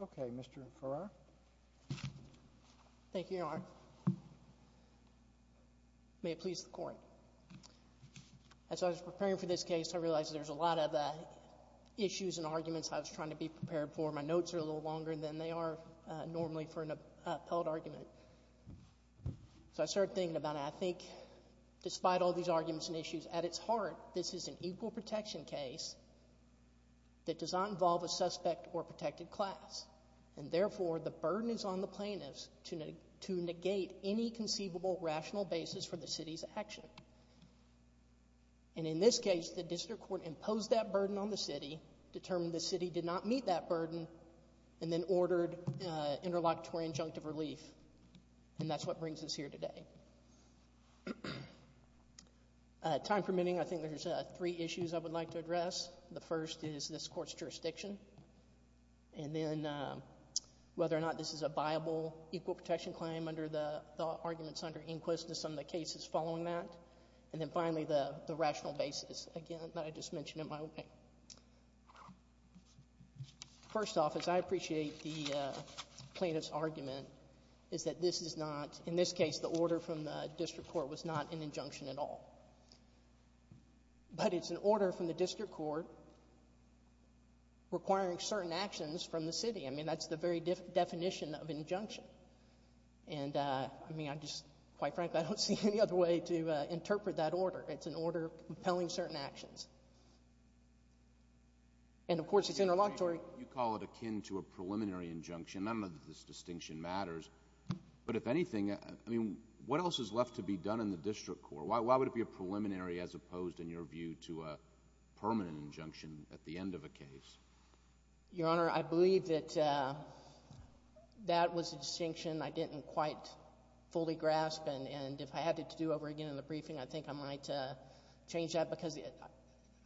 Okay, Mr. Farrar. Thank you, Your Honor. May it please the court. As I was preparing for this case, I realized there's a lot of issues and arguments I was trying to be prepared for. My notes are a little longer than they are normally for an appellate argument. So I started thinking about it. I think, despite all these arguments and issues, at its heart, this is an equal protection case that does not involve a suspect or protected class. And therefore, the burden is on the plaintiffs to negate any conceivable, rational basis for the city's action. And in this case, the district court imposed that burden on the city, determined the city did not meet that burden, and then ordered interlocutory injunctive relief. And that's what brings us here today. Time permitting, I think there's three issues I would like to address. The first is this court's jurisdiction. And then whether or not this is a viable equal protection claim under the arguments under inquisitiveness on the cases following that. And then finally, the rational basis, again, that I just mentioned in my opening. First off, as I appreciate the plaintiff's argument, is that this is not, in this case, the order from the district court was not an injunction at all. But it's an order from the district court requiring certain actions from the city. I mean, that's the very definition of injunction. And, I mean, I just, quite frankly, I don't see any other way to interpret that order. It's an order compelling certain actions. And, of course, it's interlocutory. You call it akin to a preliminary injunction. I don't know that this distinction matters. But if anything, I mean, what else is left to be done in the district court? Why would it be a preliminary as opposed, in your view, to a permanent injunction at the end of a case? Your Honor, I believe that that was a distinction I didn't quite fully grasp. And if I had it to do over again in the briefing, I think I might change that. Because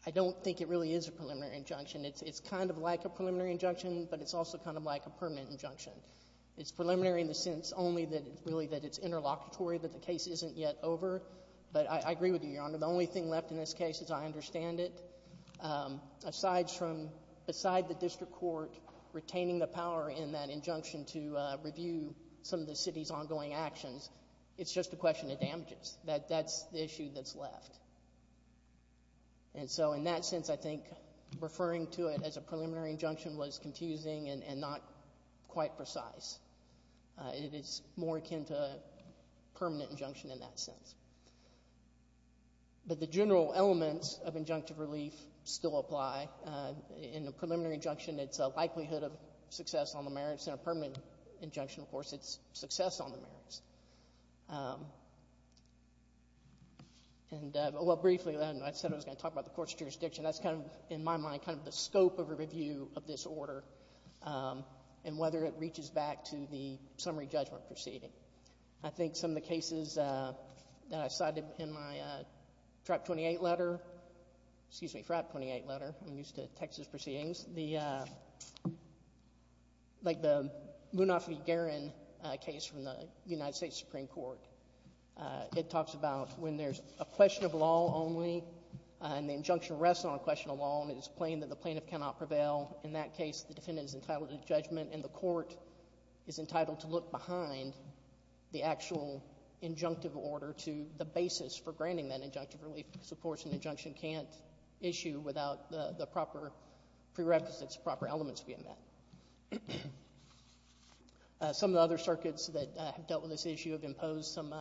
I don't think it really is a preliminary injunction. It's kind of like a preliminary injunction, but it's also kind of like a permanent injunction. It's preliminary in the sense only that it's really that it's interlocutory, that the case isn't yet over. But I agree with you, Your Honor, that besides the district court retaining the power in that injunction to review some of the city's ongoing actions, it's just a question of damages. That's the issue that's left. And so, in that sense, I think referring to it as a preliminary injunction was confusing and not quite precise. It is more akin to a permanent injunction in that sense. But the general elements of injunctive relief still apply. In a preliminary injunction, it's a likelihood of success on the merits. In a permanent injunction, of course, it's success on the merits. And well, briefly, I said I was going to talk about the court's jurisdiction. That's kind of, in my mind, kind of the scope of review of this order and whether it reaches back to the summary judgment proceeding. I think some of the cases that I cited in my Trap 28 letter — excuse me, FRAP 28 letter. I'm used to Texas proceedings. The — like the Munoz v. Guerin case from the United States Supreme Court, it talks about when there's a question of law only and the injunction rests on a question of law and it is plain that the plaintiff cannot prevail, in that case the defendant is entitled to judgment and the court is entitled to look behind the actual injunctive order to the basis for granting that injunctive relief because, of course, an injunction can't issue without the proper prerequisites, proper elements being met. Some of the other circuits that have dealt with this issue have imposed some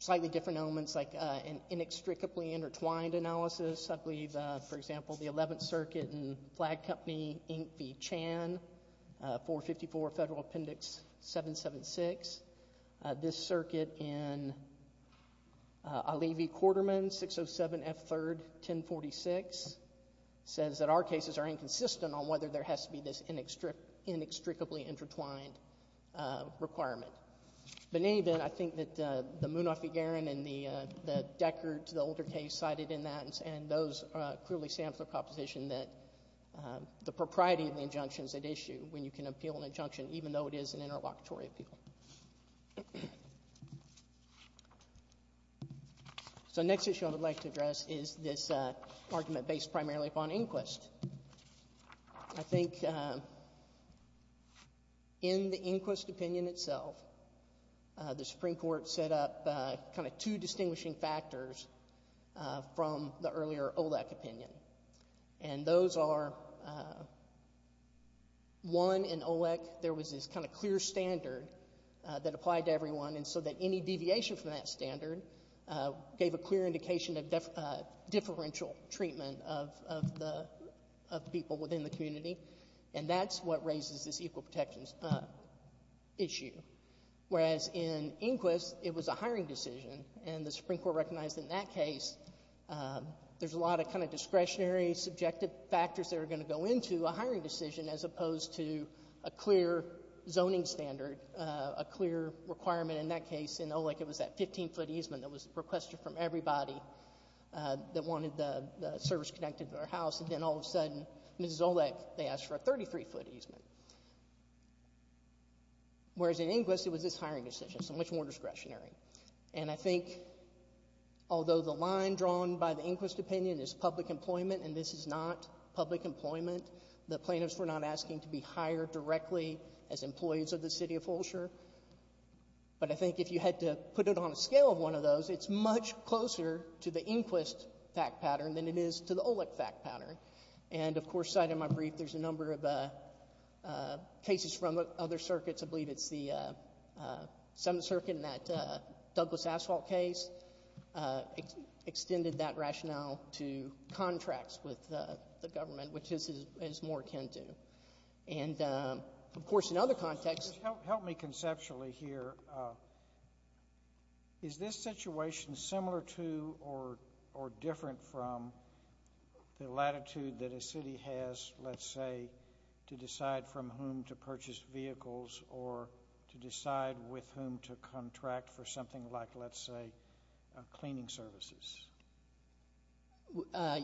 slightly different elements, like an inextricably intertwined analysis. I believe, for example, the Eleventh Circuit, 454 Federal Appendix 776. This circuit in Alivi-Quarterman, 607 F. 3rd, 1046, says that our cases are inconsistent on whether there has to be this inextricably intertwined requirement. But in any event, I think that the Munoz v. Guerin and the Deckert, the older case cited in that, and those clearly stand for the proposition that the propriety of the injunction is at issue when you can appeal an injunction even though it is an interlocutory appeal. So the next issue I would like to address is this argument based primarily upon Inquist. I think in the Inquist opinion itself, the Supreme Court set up kind of two distinguishing factors from the earlier OLEC opinion. And those are, one, in OLEC, there was this kind of clear standard that applied to everyone, and so that any deviation from that standard gave a clear indication of differential treatment of the people within the community. And that's what raises this equal protections issue, whereas in Inquist, it was a hiring decision, and the Supreme Court recognized in that case there's a lot of kind of discretionary, subjective factors that are going to go into a hiring decision as opposed to a clear zoning standard, a clear requirement in that case. In OLEC, it was that 15-foot easement that was requested from everybody that wanted the service connected to their house, and then all of a sudden, Mrs. OLEC, they asked for a 33-foot easement, whereas in Inquist, it was this hiring decision, so much more discretionary. And I think, although the line drawn by the Inquist opinion is public employment, and this is not public employment, the plaintiffs were not asking to be hired directly as employees of the city of Fulcher, but I think if you had to put it on a scale of one of those, it's much closer to the Inquist fact pattern than it is to the OLEC fact pattern. And of course, cited in my brief, there's a number of cases from other circuits. I believe it's the Seventh Circuit in that Douglas Asphalt case extended that rationale to contracts with the government, which is as more akin to. And of course, in other contexts... Just help me conceptually here. Is this situation similar to or different from the latitude that a city has, let's say, to decide from whom to purchase vehicles or to decide with whom to contract for something like, let's say, cleaning services?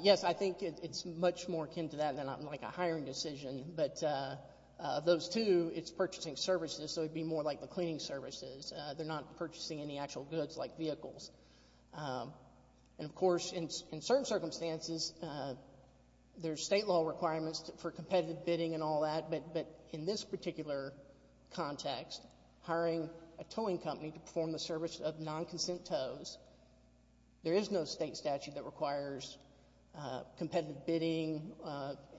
Yes, I think it's much more akin to that than a hiring decision, but those two, it's purchasing services, so it would be more like the cleaning services. They're not purchasing any actual goods like vehicles. And of course, in certain circumstances, there's state law requirements for competitive bidding and all that, but in this particular context, hiring a towing company to perform the service of non-consent tows, there is no state statute that requires competitive bidding,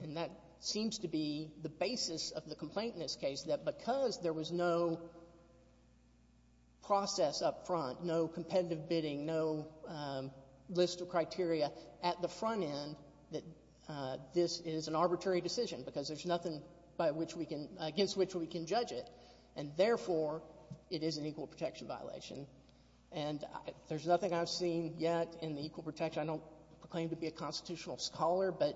and that seems to be the basis of the complaint in this case, that because there was no process up front, no competitive bidding, no list of criteria at the front end, that this is an arbitrary decision because there's nothing by which we can — against which we can judge it, and therefore, it is an equal protection violation. And there's nothing I've seen yet in the equal protection — I don't proclaim to be a constitutional scholar, but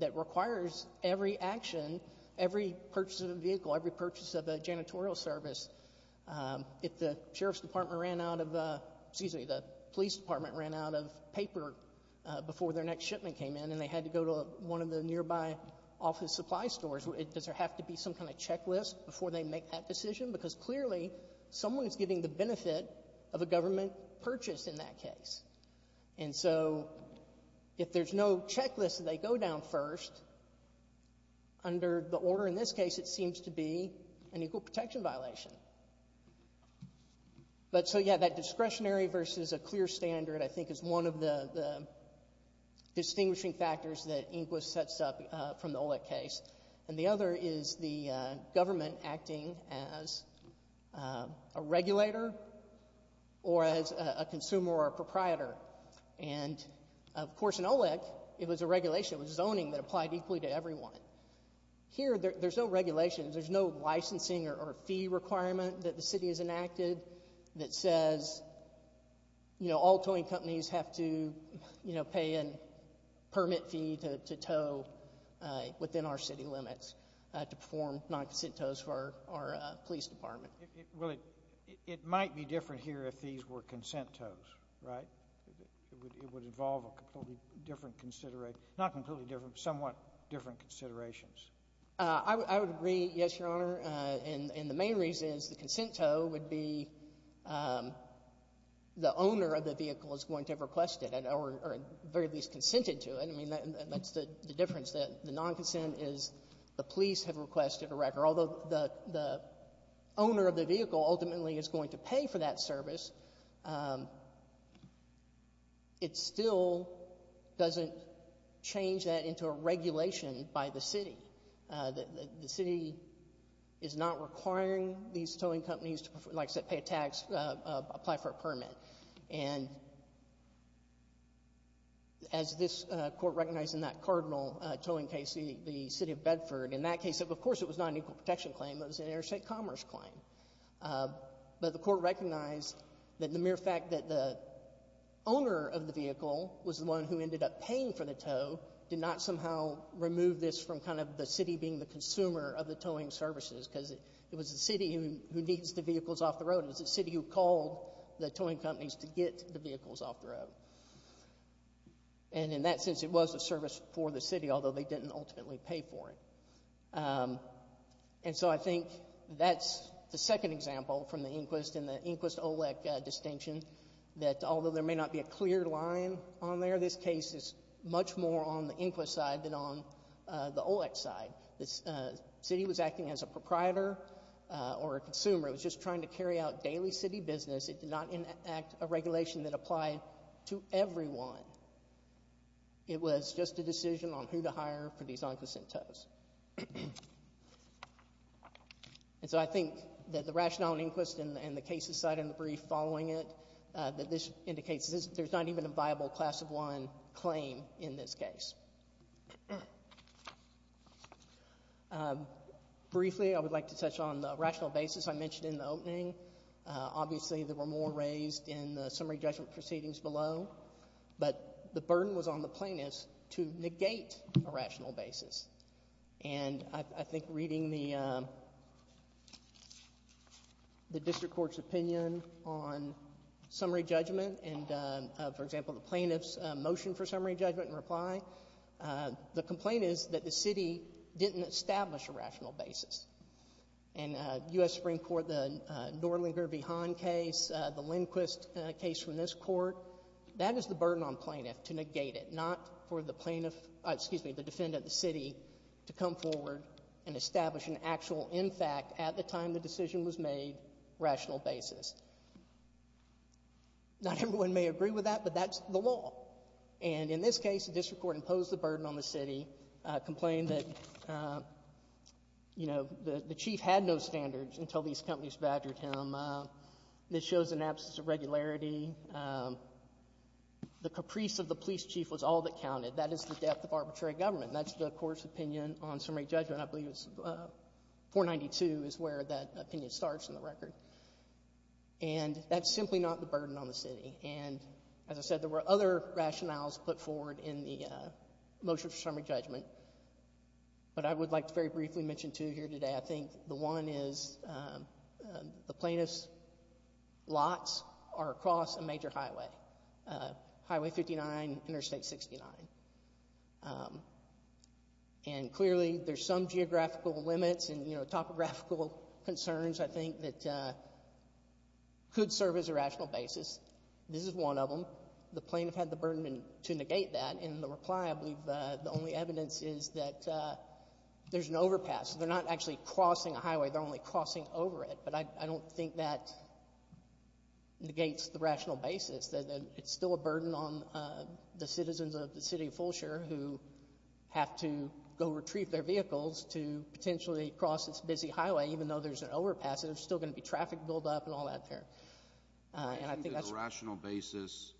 that requires every action, every purchase of a vehicle, every purchase of a janitorial service. If the sheriff's department ran out of — excuse me, the police department ran out of paper before their next shipment came in, and they had to go to one of the nearby office supply stores, does there have to be some kind of checklist before they make that decision? Because clearly, someone is getting the benefit of a government purchase in that case. And so, if there's no checklist and they go down first, under the order in this case, it seems to be an equal protection violation. But so, yeah, that discretionary versus a clear standard, I think, is one of the distinguishing factors that Inquis sets up from the OLEC case. And the other is the government acting as a regulator or as a consumer or a proprietor. And, of course, in OLEC, it was a regulation, it was zoning that applied equally to everyone. Here, there's no regulations, there's no licensing or fee requirement that the city has enacted that says, you know, all towing companies have to, you know, pay a permit fee to tow within our city limits to perform non-consent tows for our police department. Well, it might be different here if these were consent tows, right? It would involve a completely different, not completely different, but somewhat different considerations. I would agree, yes, Your Honor. And the main reason is the consent tow would be the owner of the vehicle is going to have requested it or at least consented to it. I mean, that's the difference, that the non-consent is the police have requested a record. Although the owner of the vehicle ultimately is going to pay for that service, it still doesn't change that into a regulation by the city. The city is not requiring these towing companies to, like I said, pay a tax, apply for a permit. And as this Court recognized in that court ordinal towing case, the city of Bedford, in that case, of course, it was not an equal protection claim. It was an interstate commerce claim. But the Court recognized that the mere fact that the owner of the vehicle was the one who ended up paying for the tow did not somehow remove this from kind of the city being the consumer of the towing services because it was the city who needs the vehicles off the road. It was the city who called the towing companies to get the vehicles off the road. And in that sense, it was a service for the city, although they didn't ultimately pay for it. And so I think that's the second example from the Inquist and the Inquist-OLEC distinction, that although there may not be a clear line on there, this case is much more on the Inquist side than on the OLEC side. The city was acting as a proprietor or a consumer. It was just trying to carry out daily city business. It did not enact a regulation that applied to everyone. It was just a decision on who to hire for these on-question tows. And so I think that the rationale in Inquist and the cases cited in the brief following it, that this indicates there's not even a viable class of one claim in this case. Briefly, I would like to touch on the rational basis I mentioned in the opening. Obviously, there were more raised in the summary judgment proceedings below, but the burden was on the plaintiffs to negate a rational basis. And I think reading the district court's opinion on summary judgment and, for example, the plaintiff's motion for summary judgment and reply, the complaint is that the city didn't establish a rational basis. And U.S. Supreme Court, the Norlinger v. Hahn case, the Inquist case from this court, that is the burden on plaintiff to negate it, not for the defendant, the city, to come forward and establish an actual, in fact, at the time the decision was made, rational basis. Not everyone may agree with that, but that's the law. And in this case, the district court imposed the burden on the city, complained that, you know, the chief had no standards until these companies badgered him. This shows an absence of regularity. The caprice of the police chief was all that counted. That is the depth of arbitrary government. That's the court's opinion on summary judgment. I believe it's 492 is where that opinion starts in the record. And that's simply not the burden on the city. And as I said, there were other rationales put forward in the motion for summary judgment. But I would like to very briefly mention two here today. I think the one is the plaintiff's lots are across a major highway, Highway 59, Interstate 69. And clearly, there's some geographical limits and, you know, topographical concerns, I think, that could serve as a rational basis. This is one of them. The plaintiff had the ability to negate that. In the reply, I believe the only evidence is that there's an overpass. They're not actually crossing a highway. They're only crossing over it. But I don't think that negates the rational basis, that it's still a burden on the citizens of the city of Fulshire who have to go retrieve their vehicles to potentially cross this busy highway, even though there's an overpass. There's still going to be traffic buildup and all that there. And I think that's a rational basis,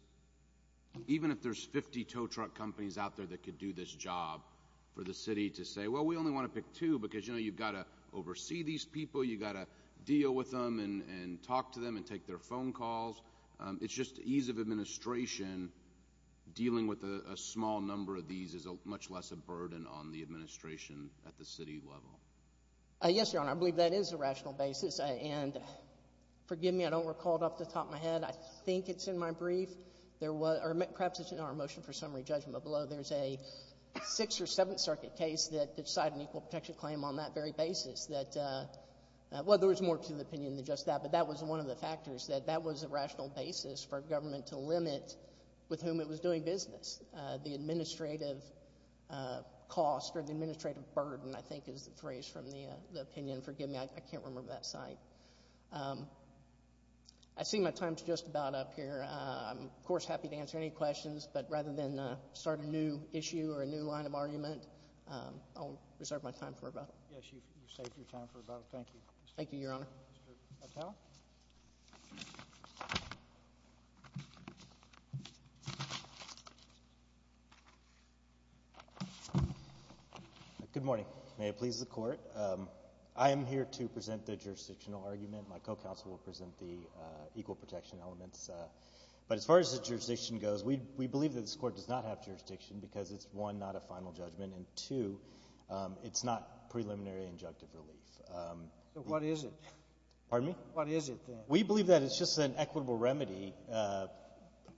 even if there's 50 tow truck companies out there that could do this job for the city to say, well, we only want to pick two because, you know, you've got to oversee these people. You've got to deal with them and talk to them and take their phone calls. It's just ease of administration. Dealing with a small number of these is much less a burden on the administration at the city level. Yes, Your Honor, I believe that is a rational basis. And forgive me, I don't recall it off the top of my head. I think it's in my brief. There was, or perhaps it's in our motion for summary judgment, but below there's a Sixth or Seventh Circuit case that cited an equal protection claim on that very basis that, well, there was more to the opinion than just that, but that was one of the factors, that that was a rational basis for government to limit with whom it was doing business. The administrative cost or the administrative burden, I think, is the phrase from the opinion. Forgive me, I can't remember that site. I see my time's just about up here. I'm, of course, happy to answer any questions, but rather than start a new issue or a new line of argument, I'll reserve my time for rebuttal. Yes, you've saved your time for rebuttal. Thank you. Thank you, Your Honor. Mr. Mattel? Good morning. May it please the Court. I am here to present the jurisdictional argument. My co-counsel will present the equal protection elements. But as far as the jurisdiction goes, we believe that this Court does not have jurisdiction because it's, one, not a final judgment, and two, it's not preliminary injunctive relief. So what is it? Pardon me? What is it, then? We believe that it's just an equitable remedy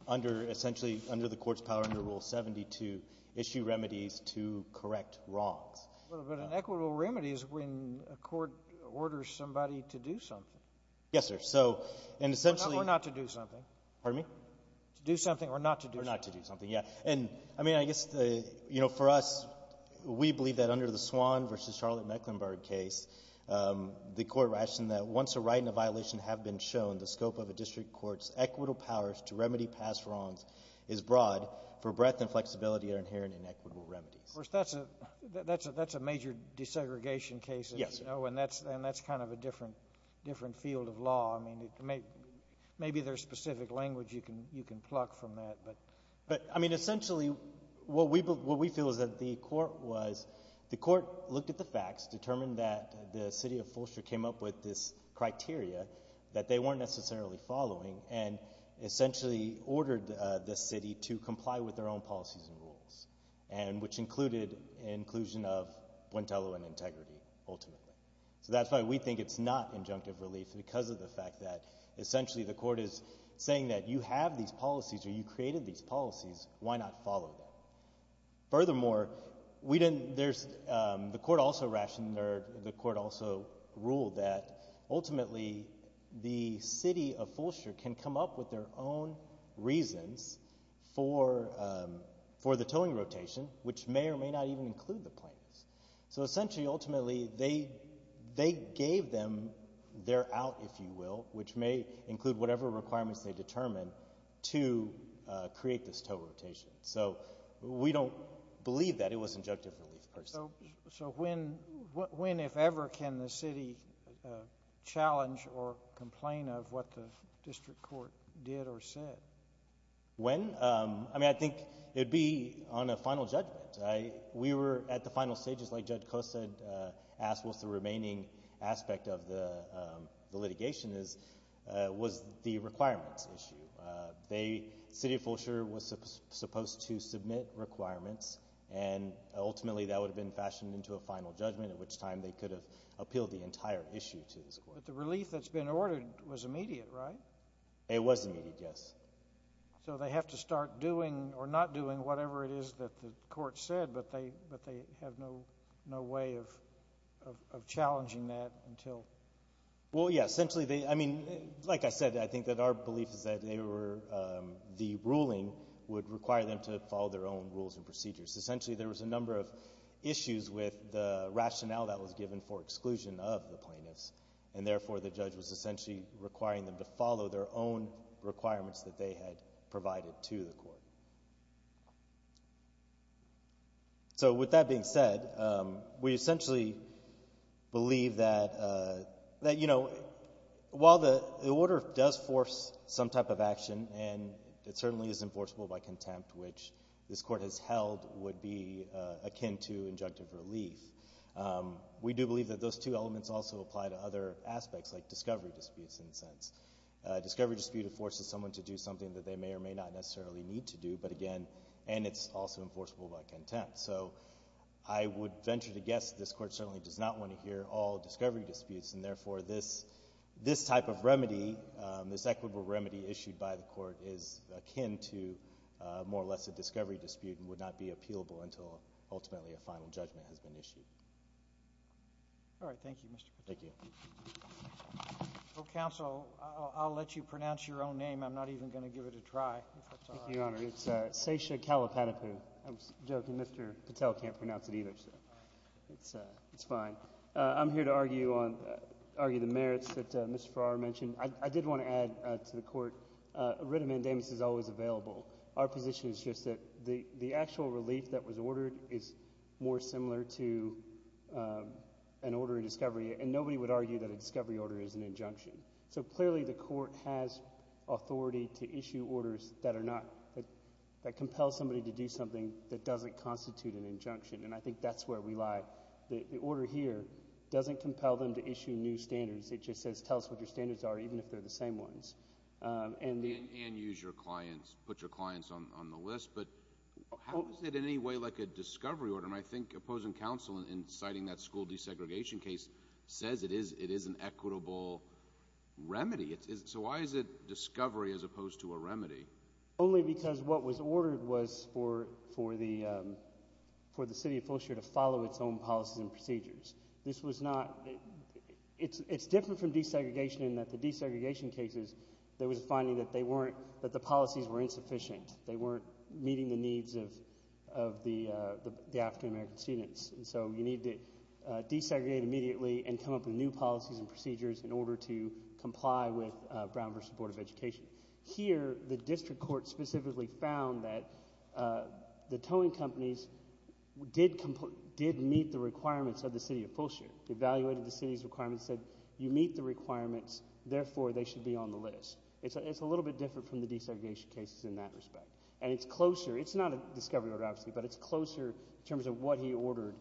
under, essentially, under the Court's power under Rule 72, issue remedies to correct wrongs. But an equitable remedy is when a Court orders somebody to do something. Yes, sir. So, and essentially — Or not to do something. Pardon me? To do something or not to do something. Or not to do something, yeah. And, I mean, I guess, you know, for us, we believe that under the Swan v. Charlotte Mecklenburg case, the Court rationed that once a right and a violation have been shown, the scope of a district court's equitable powers to remedy past wrongs is broad for breadth and flexibility that are inherent in equitable remedies. Of course, that's a major desegregation case. Yes, sir. And that's kind of a different field of law. I mean, maybe there's specific language you can pluck from that. But, I mean, essentially, what we feel is that the Court looked at the facts, determined that the city of Fulcher came up with this criteria that they weren't necessarily following, and essentially ordered the city to comply with their own policies and rules, which included inclusion of Buentelo and integrity, ultimately. So that's why we think it's not injunctive relief, because of the fact that, essentially, the Court is saying that you have these policies, or you created these policies, why not follow them? Furthermore, we didn't, there's, the Court also rationed, or the Court also ruled that, ultimately, the city of Fulcher can come up with their own reasons for the towing rotation, which may or may not even include the plaintiffs. So, essentially, ultimately, they gave them their out, if you will, which may include whatever requirements they determined to create this tow rotation. So, we don't believe that it was injunctive relief, personally. So, when, if ever, can the city challenge or complain of what the District Court did or said? When? I mean, I think it'd be on a final judgment. We were at the final stages, like Judge Costa had asked, what's the remaining aspect of the litigation is, was the requirements issue. They, the city of Fulcher was supposed to submit requirements, and ultimately, that would have been fashioned into a final judgment, at which time they could have appealed the entire issue to this Court. But the relief that's been ordered was immediate, right? It was immediate, yes. So, they have to start doing or not doing whatever it is that the Court said, but they have no way of challenging that until? Well, yeah. Essentially, they, I mean, like I said, I think that our belief is that they were, the ruling would require them to follow their own rules and procedures. Essentially, there was a number of issues with the rationale that was given for exclusion of the plaintiffs. And therefore, the judge was essentially requiring them to follow their own requirements that they had provided to the Court. So, with that being said, we essentially believe that, you know, while the order does force some type of action, and it certainly is enforceable by contempt, which this Court has held would be akin to injunctive relief, we do believe that those two elements also apply to other aspects, like discovery disputes, in a sense. A discovery dispute forces someone to do something that they may or may not necessarily need to do, but again, and it's also enforceable by contempt. So, I would venture to guess this Court certainly does not want to hear all discovery disputes. And therefore, this type of remedy, this equitable remedy issued by the Court is akin to more or less a discovery dispute and would not be appealable until ultimately a final judgment has been issued. All right. Thank you, Mr. Patel. Thank you. Well, counsel, I'll let you pronounce your own name. I'm not even going to give it a try, if that's all right. Thank you, Your Honor. It's Sesha Kalapatapu. I'm joking. Mr. Patel can't pronounce it either, so it's fine. I'm here to argue the merits that Mr. Farrar mentioned. I did want to add to the Court, a writ of mandamus is always available. Our position is just that the actual relief that was ordered is more similar to an order of discovery. And nobody would argue that a discovery order is an injunction. So, clearly, the Court has authority to issue orders that compel somebody to do something that doesn't constitute an injunction. And I think that's where we lie. The order here doesn't compel them to issue new standards. It just says, tell us what your standards are, even if they're the same ones. And use your clients, put your clients on the list. But how is it in any way like a discovery order? And I think opposing counsel in citing that school desegregation case says it is an equitable remedy. So why is it discovery as opposed to a remedy? Only because what was ordered was for the City of Fullshire to follow its own policies and procedures. This was not, it's different from desegregation in that the desegregation cases, there was a finding that the policies were insufficient. They weren't meeting the needs of the African-American students. And so you need to desegregate immediately and come up with new policies and procedures in order to comply with Brown v. Board of Education. Here, the District Court specifically found that the towing companies did meet the requirements of the City of Fullshire. They evaluated the City's requirements and said, you meet the requirements, therefore they should be on the list. It's a little bit different from the desegregation cases in that respect. And it's closer, it's not a discovery order obviously, but it's closer in terms of what he ordered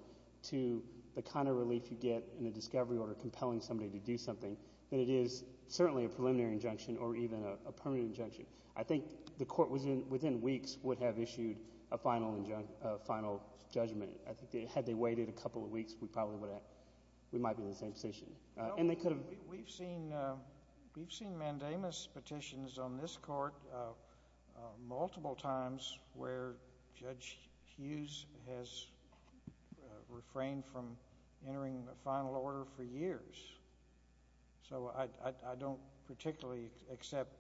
to the kind of relief you get in a discovery order compelling somebody to do something than it is certainly a preliminary injunction or even a permanent injunction. I think the Court within weeks would have issued a final judgment. Had they waited a couple of weeks, we might be in the same position. We've seen mandamus petitions on this Court multiple times where Judge Hughes has refrained from entering a final order for years. So I don't particularly accept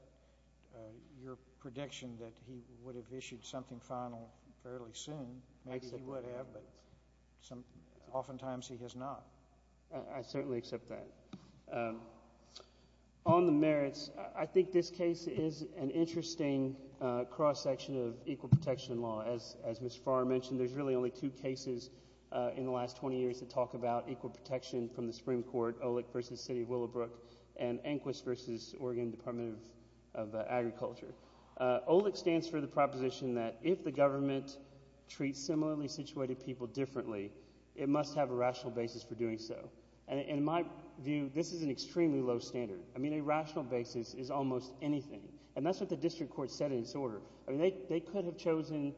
your prediction that he would have issued something final fairly soon. Maybe he would have, but oftentimes he has not. I certainly accept that. On the merits, I think this case is an interesting cross-section of equal protection law. As Mr. Farrer mentioned, there's really only two cases in the last 20 years that talk about equal protection from the Supreme Court, OLEC versus City of Willowbrook and ANQUIS versus Oregon Department of Agriculture. OLEC stands for the proposition that if the government treats similarly situated people differently, it must have a rational basis for doing so. In my view, this is an extremely low standard. I mean, a rational basis is almost anything. And that's what the District Court said in its order. They could have chosen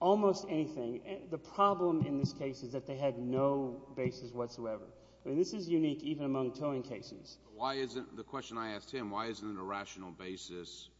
almost anything. The problem in this case is that they had no basis whatsoever. I mean, this is unique even among towing cases. The question I asked him, why isn't it a rational basis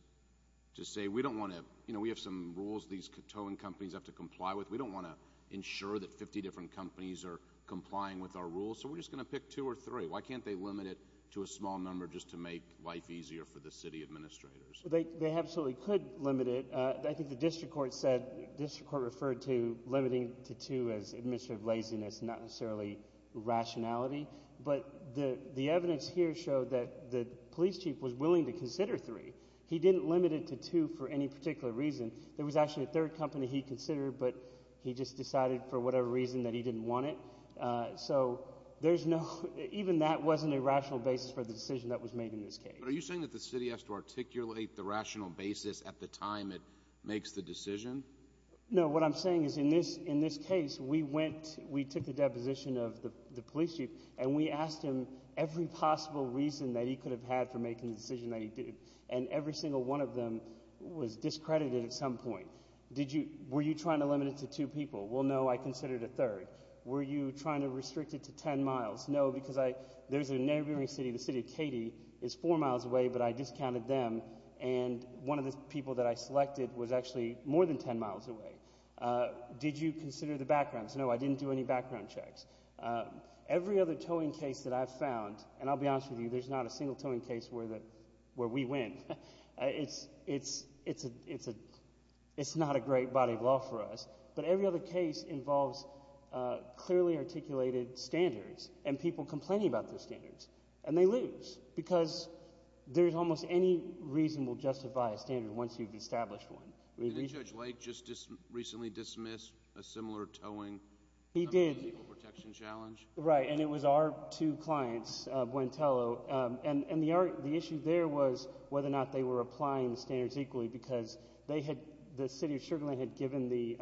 to say, we don't want to, you know, we have some rules these towing companies have to comply with. We don't want to ensure that 50 different companies are complying with our rules, so we're just going to pick two or three. Why can't they limit it to a small number just to make life easier for the city administrators? They absolutely could limit it. I think the District Court said, the District Court referred to limiting to two as administrative laziness, not necessarily rationality. But the evidence here showed that the police chief was willing to consider three. He didn't limit it to two for any particular reason. There was actually a third company he considered, but he just decided for whatever reason that he didn't want it. So there's no, even that wasn't a rational basis for the decision that was made in this case. But are you saying that the city has to articulate the rational basis at the time it makes the decision? No, what I'm saying is in this case, we went, we took the deposition of the police chief and we asked him every possible reason that he could have had for making the decision that he did. And every single one of them was discredited at some point. Did you, were you trying to limit it to two people? Well, no, I considered a third. Were you trying to restrict it to ten miles? No, because I, there's a neighboring city, the city of Katy is four miles away, but I discounted them. And one of the people that I selected was actually more than ten miles away. Did you consider the backgrounds? No, I didn't do any background checks. Every other towing case that I've found, and I'll be honest with you, there's not a single towing case where we win. It's not a great body of law for us. But every other case involves clearly articulated standards and people complaining about those standards. And they lose. Because there's almost any reason we'll justify a standard Did Judge Lake just recently dismiss a similar towing protection challenge? He did. Right, and it was our two clients, Buentello, and the issue there was whether or not they were applying the standards equally because they had, the city of Sugarland had given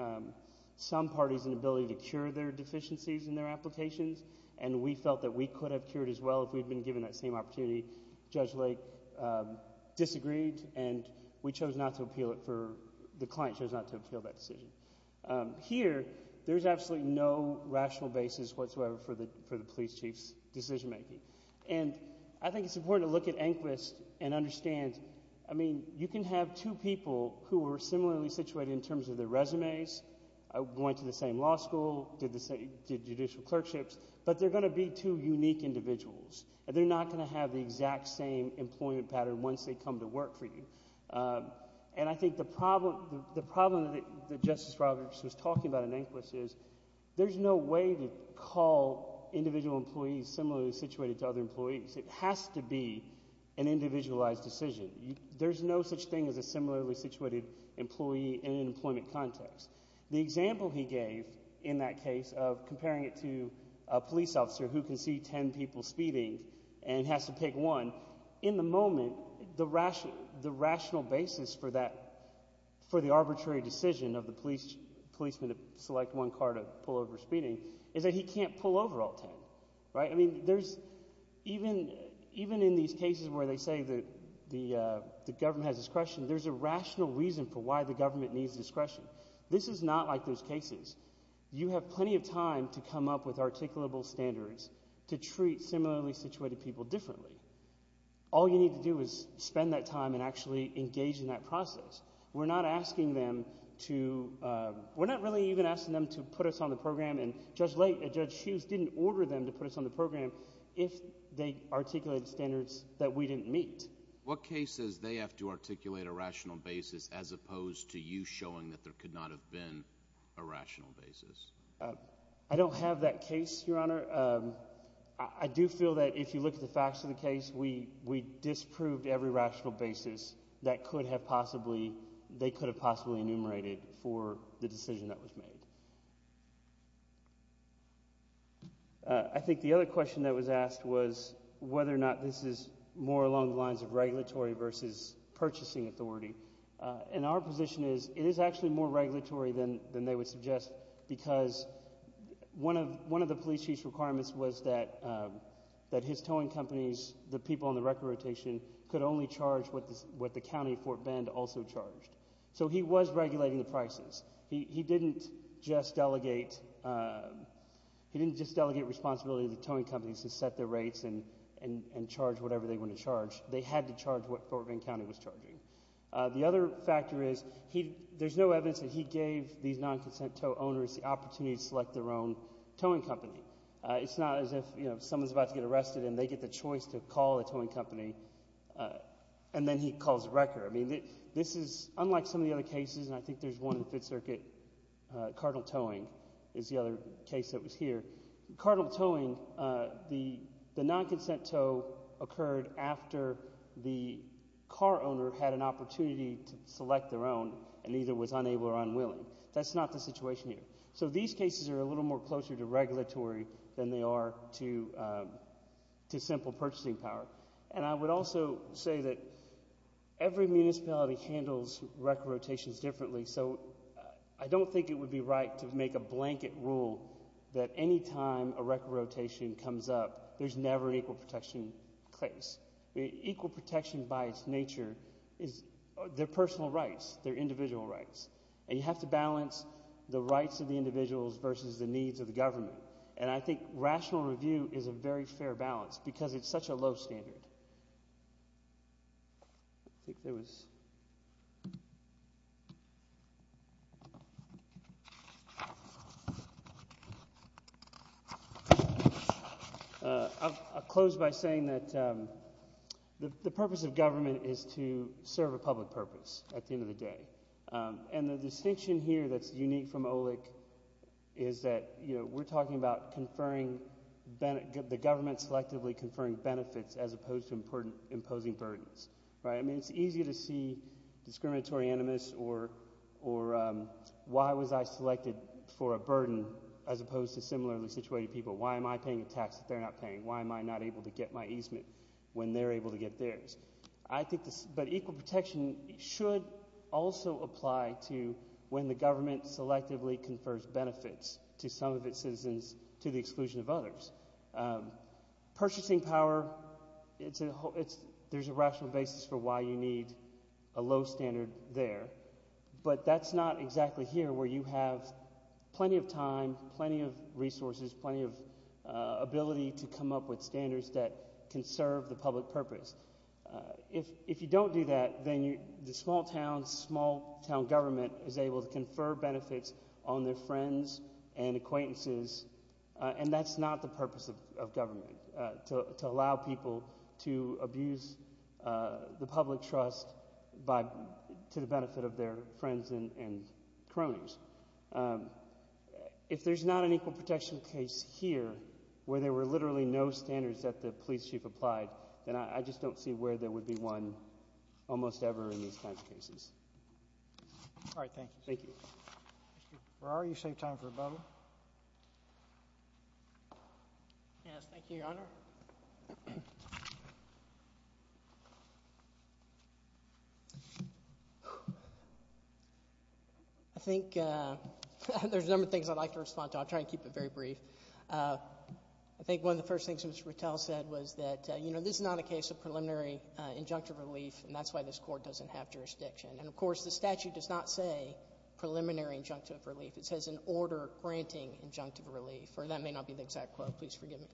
some parties an ability to cure their deficiencies in their applications, and we felt that we could have cured as well if we'd been given that same opportunity. Judge Lake disagreed, and we chose not to appeal it for, the client chose not to appeal that decision. Here, there's absolutely no rational basis whatsoever for the police chief's decision making. And I think it's important to look at Enquist and understand, I mean, you can have two people who are similarly situated in terms of their resumes, went to the same law school, did judicial clerkships, but they're going to be two unique individuals. And they're not going to have the exact same employment pattern once they come to work for you. And I think the problem that Justice Roberts was talking about in Enquist is, there's no way to call individual employees similarly situated to other employees. It has to be an individualized decision. There's no such thing as a similarly situated employee in an employment context. The example he gave in that case of comparing it to a police officer who can see ten people speeding and has to pick one, in the moment, the rational basis for that, for the arbitrary decision of the policeman to select one car to pull over speeding, is that he can't pull over all ten. Even in these cases where they say the government has discretion, there's a rational reason for why the government needs discretion. This is not like those cases. You have plenty of time to come up with articulable standards to treat similarly situated people differently. All you need to do is spend that time and actually engage in that process. We're not asking them to put us on the program and Judge Hughes didn't order them to put us on the program if they articulated standards that we didn't meet. What cases do they have to articulate a rational basis as opposed to you showing that there could not have been a rational basis? I don't have that case, Your Honor. I do feel that if you look at the facts of the case, we disproved every rational basis that they could have possibly enumerated for the decision that was made. I think the other question that was asked was whether or not this is more along the lines of regulatory versus purchasing authority. Our position is it is actually more regulatory than they would suggest because one of the police chief's requirements was that his towing companies, the people on the record rotation could only charge what the county of Fort Bend also charged. He was regulating the prices. He didn't just delegate responsibility to the towing companies to set their rates and charge whatever they wanted to charge. They had to charge what Fort Bend County was charging. The other factor is there's no evidence that he gave these non-consent tow owners the opportunity to select their own towing company. It's not as if someone's about to get arrested and they get the choice to call the towing company and then he calls the record. This is unlike some of the other cases and I think there's one in the Fifth Circuit Cardinal Towing is the other case that was here. Cardinal Towing the non-consent tow occurred after the car owner had an opportunity to select their own and either was unable or unwilling. That's not the situation here. These cases are a little more closer to regulatory than they are to simple purchasing power and I would also say that every municipality handles record rotations differently so I don't think it would be right to make a blanket rule that any time a record rotation comes up there's never an equal protection case. Equal protection by its nature is their personal rights, their individual rights and you have to balance the rights of the individuals versus the needs of the government and I think rational review is a very fair balance because it's such a low standard. I'll close by saying that the purpose of government is to serve a public purpose at the end of the day and the distinction here that's unique from OLEC is that we're talking about the government selectively conferring benefits as opposed to imposing burdens. It's easy to see discriminatory animus or why was I selected for a burden as opposed to similarly situated people. Why am I paying a tax that they're not paying? Why am I not able to get my easement when they're able to get theirs? But equal protection should also apply to when the government selectively confers benefits to some of its citizens to the exclusion of others. Purchasing power there's a rational basis for why you need a low standard there but that's not exactly here where you have plenty of time, plenty of resources, plenty of ability to come up with standards that can serve the public purpose. If you don't do that then the small town government is able to have friends and acquaintances and that's not the purpose of government to allow people to abuse the public trust to the benefit of their friends and cronies. If there's not an equal protection case here where there were literally no standards that the police chief applied then I just don't see where there would be one almost ever in these kinds of cases. Thank you. Mr. Brower, you saved time for a bubble. Yes, thank you, Your Honor. I think there's a number of things I'd like to respond to. I'll try to keep it very brief. I think one of the first things Mr. Rattel said was that this is not a case of preliminary injunctive relief and that's why this court doesn't have jurisdiction. And of course the statute does not say preliminary injunctive relief. It says an order granting injunctive relief or that may not be the exact quote, please forgive me.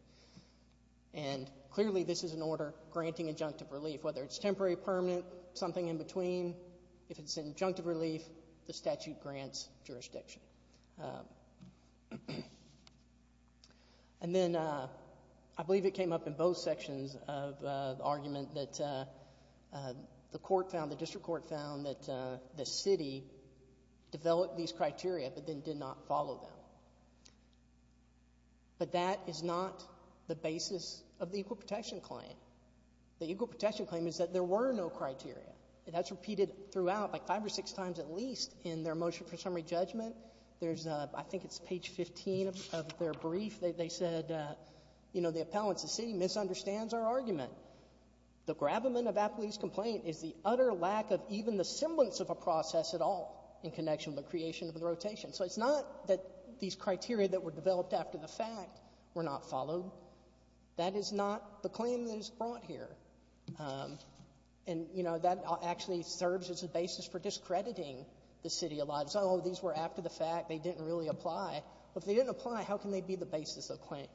And clearly this is an order granting injunctive relief whether it's temporary, permanent, something in between if it's injunctive relief the statute grants jurisdiction. And then I believe it came up in both sections of the argument that the court found, the district court found that the city developed these criteria but then did not follow them. But that is not the basis of the Equal Protection Claim. The Equal Protection Claim is that there were no criteria. That's repeated throughout like five or six times at least in their motion for summary judgment. I think it's page 15 of their brief. They said the appellants, the city misunderstands their argument. The gravamen of Appley's complaint is the utter lack of even the semblance of a process at all in connection with the creation of the rotation. So it's not that these criteria that were developed after the fact were not followed. That is not the claim that is brought here. And you know that actually serves as a basis for discrediting the city of lives. Oh these were after the fact they didn't really apply. If they didn't apply how can they be the basis of claim?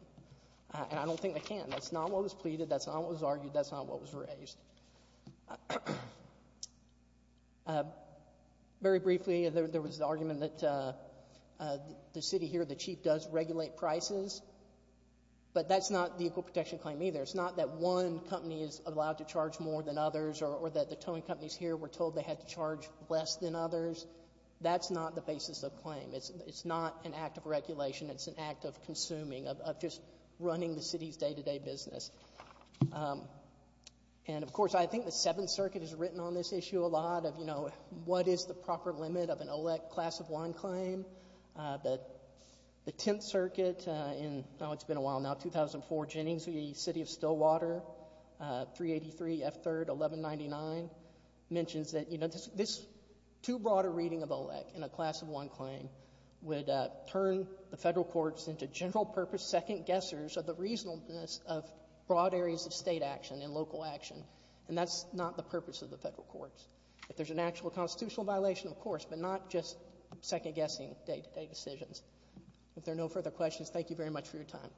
And I don't think they can. That's not what was pleaded. That's not what was argued. That's not what was raised. Very briefly there was the argument that the city here, the chief does regulate prices but that's not the Equal Protection Claim either. It's not that one company is allowed to charge more than others or that the towing companies here were told they had to charge less than others. That's not the basis of claim. It's not an act of regulation. It's an act of consuming, of just running the city's day-to-day business. And of course I think the 7th Circuit has written on this issue a lot of you know what is the proper limit of an ELEC class of one claim. The 10th Circuit in, oh it's been a while now, 2004 Jennings v. City of Stillwater 383 F. 3rd 1199 mentions that this too broader reading of ELEC in a class of one claim would turn the Federal Courts into general purpose second-guessers of the reasonableness of broad areas of State action and local action and that's not the purpose of the Federal Courts. If there's an actual constitutional violation, of course, but not just second-guessing day-to-day decisions. If there are no further questions, thank you very much for your time.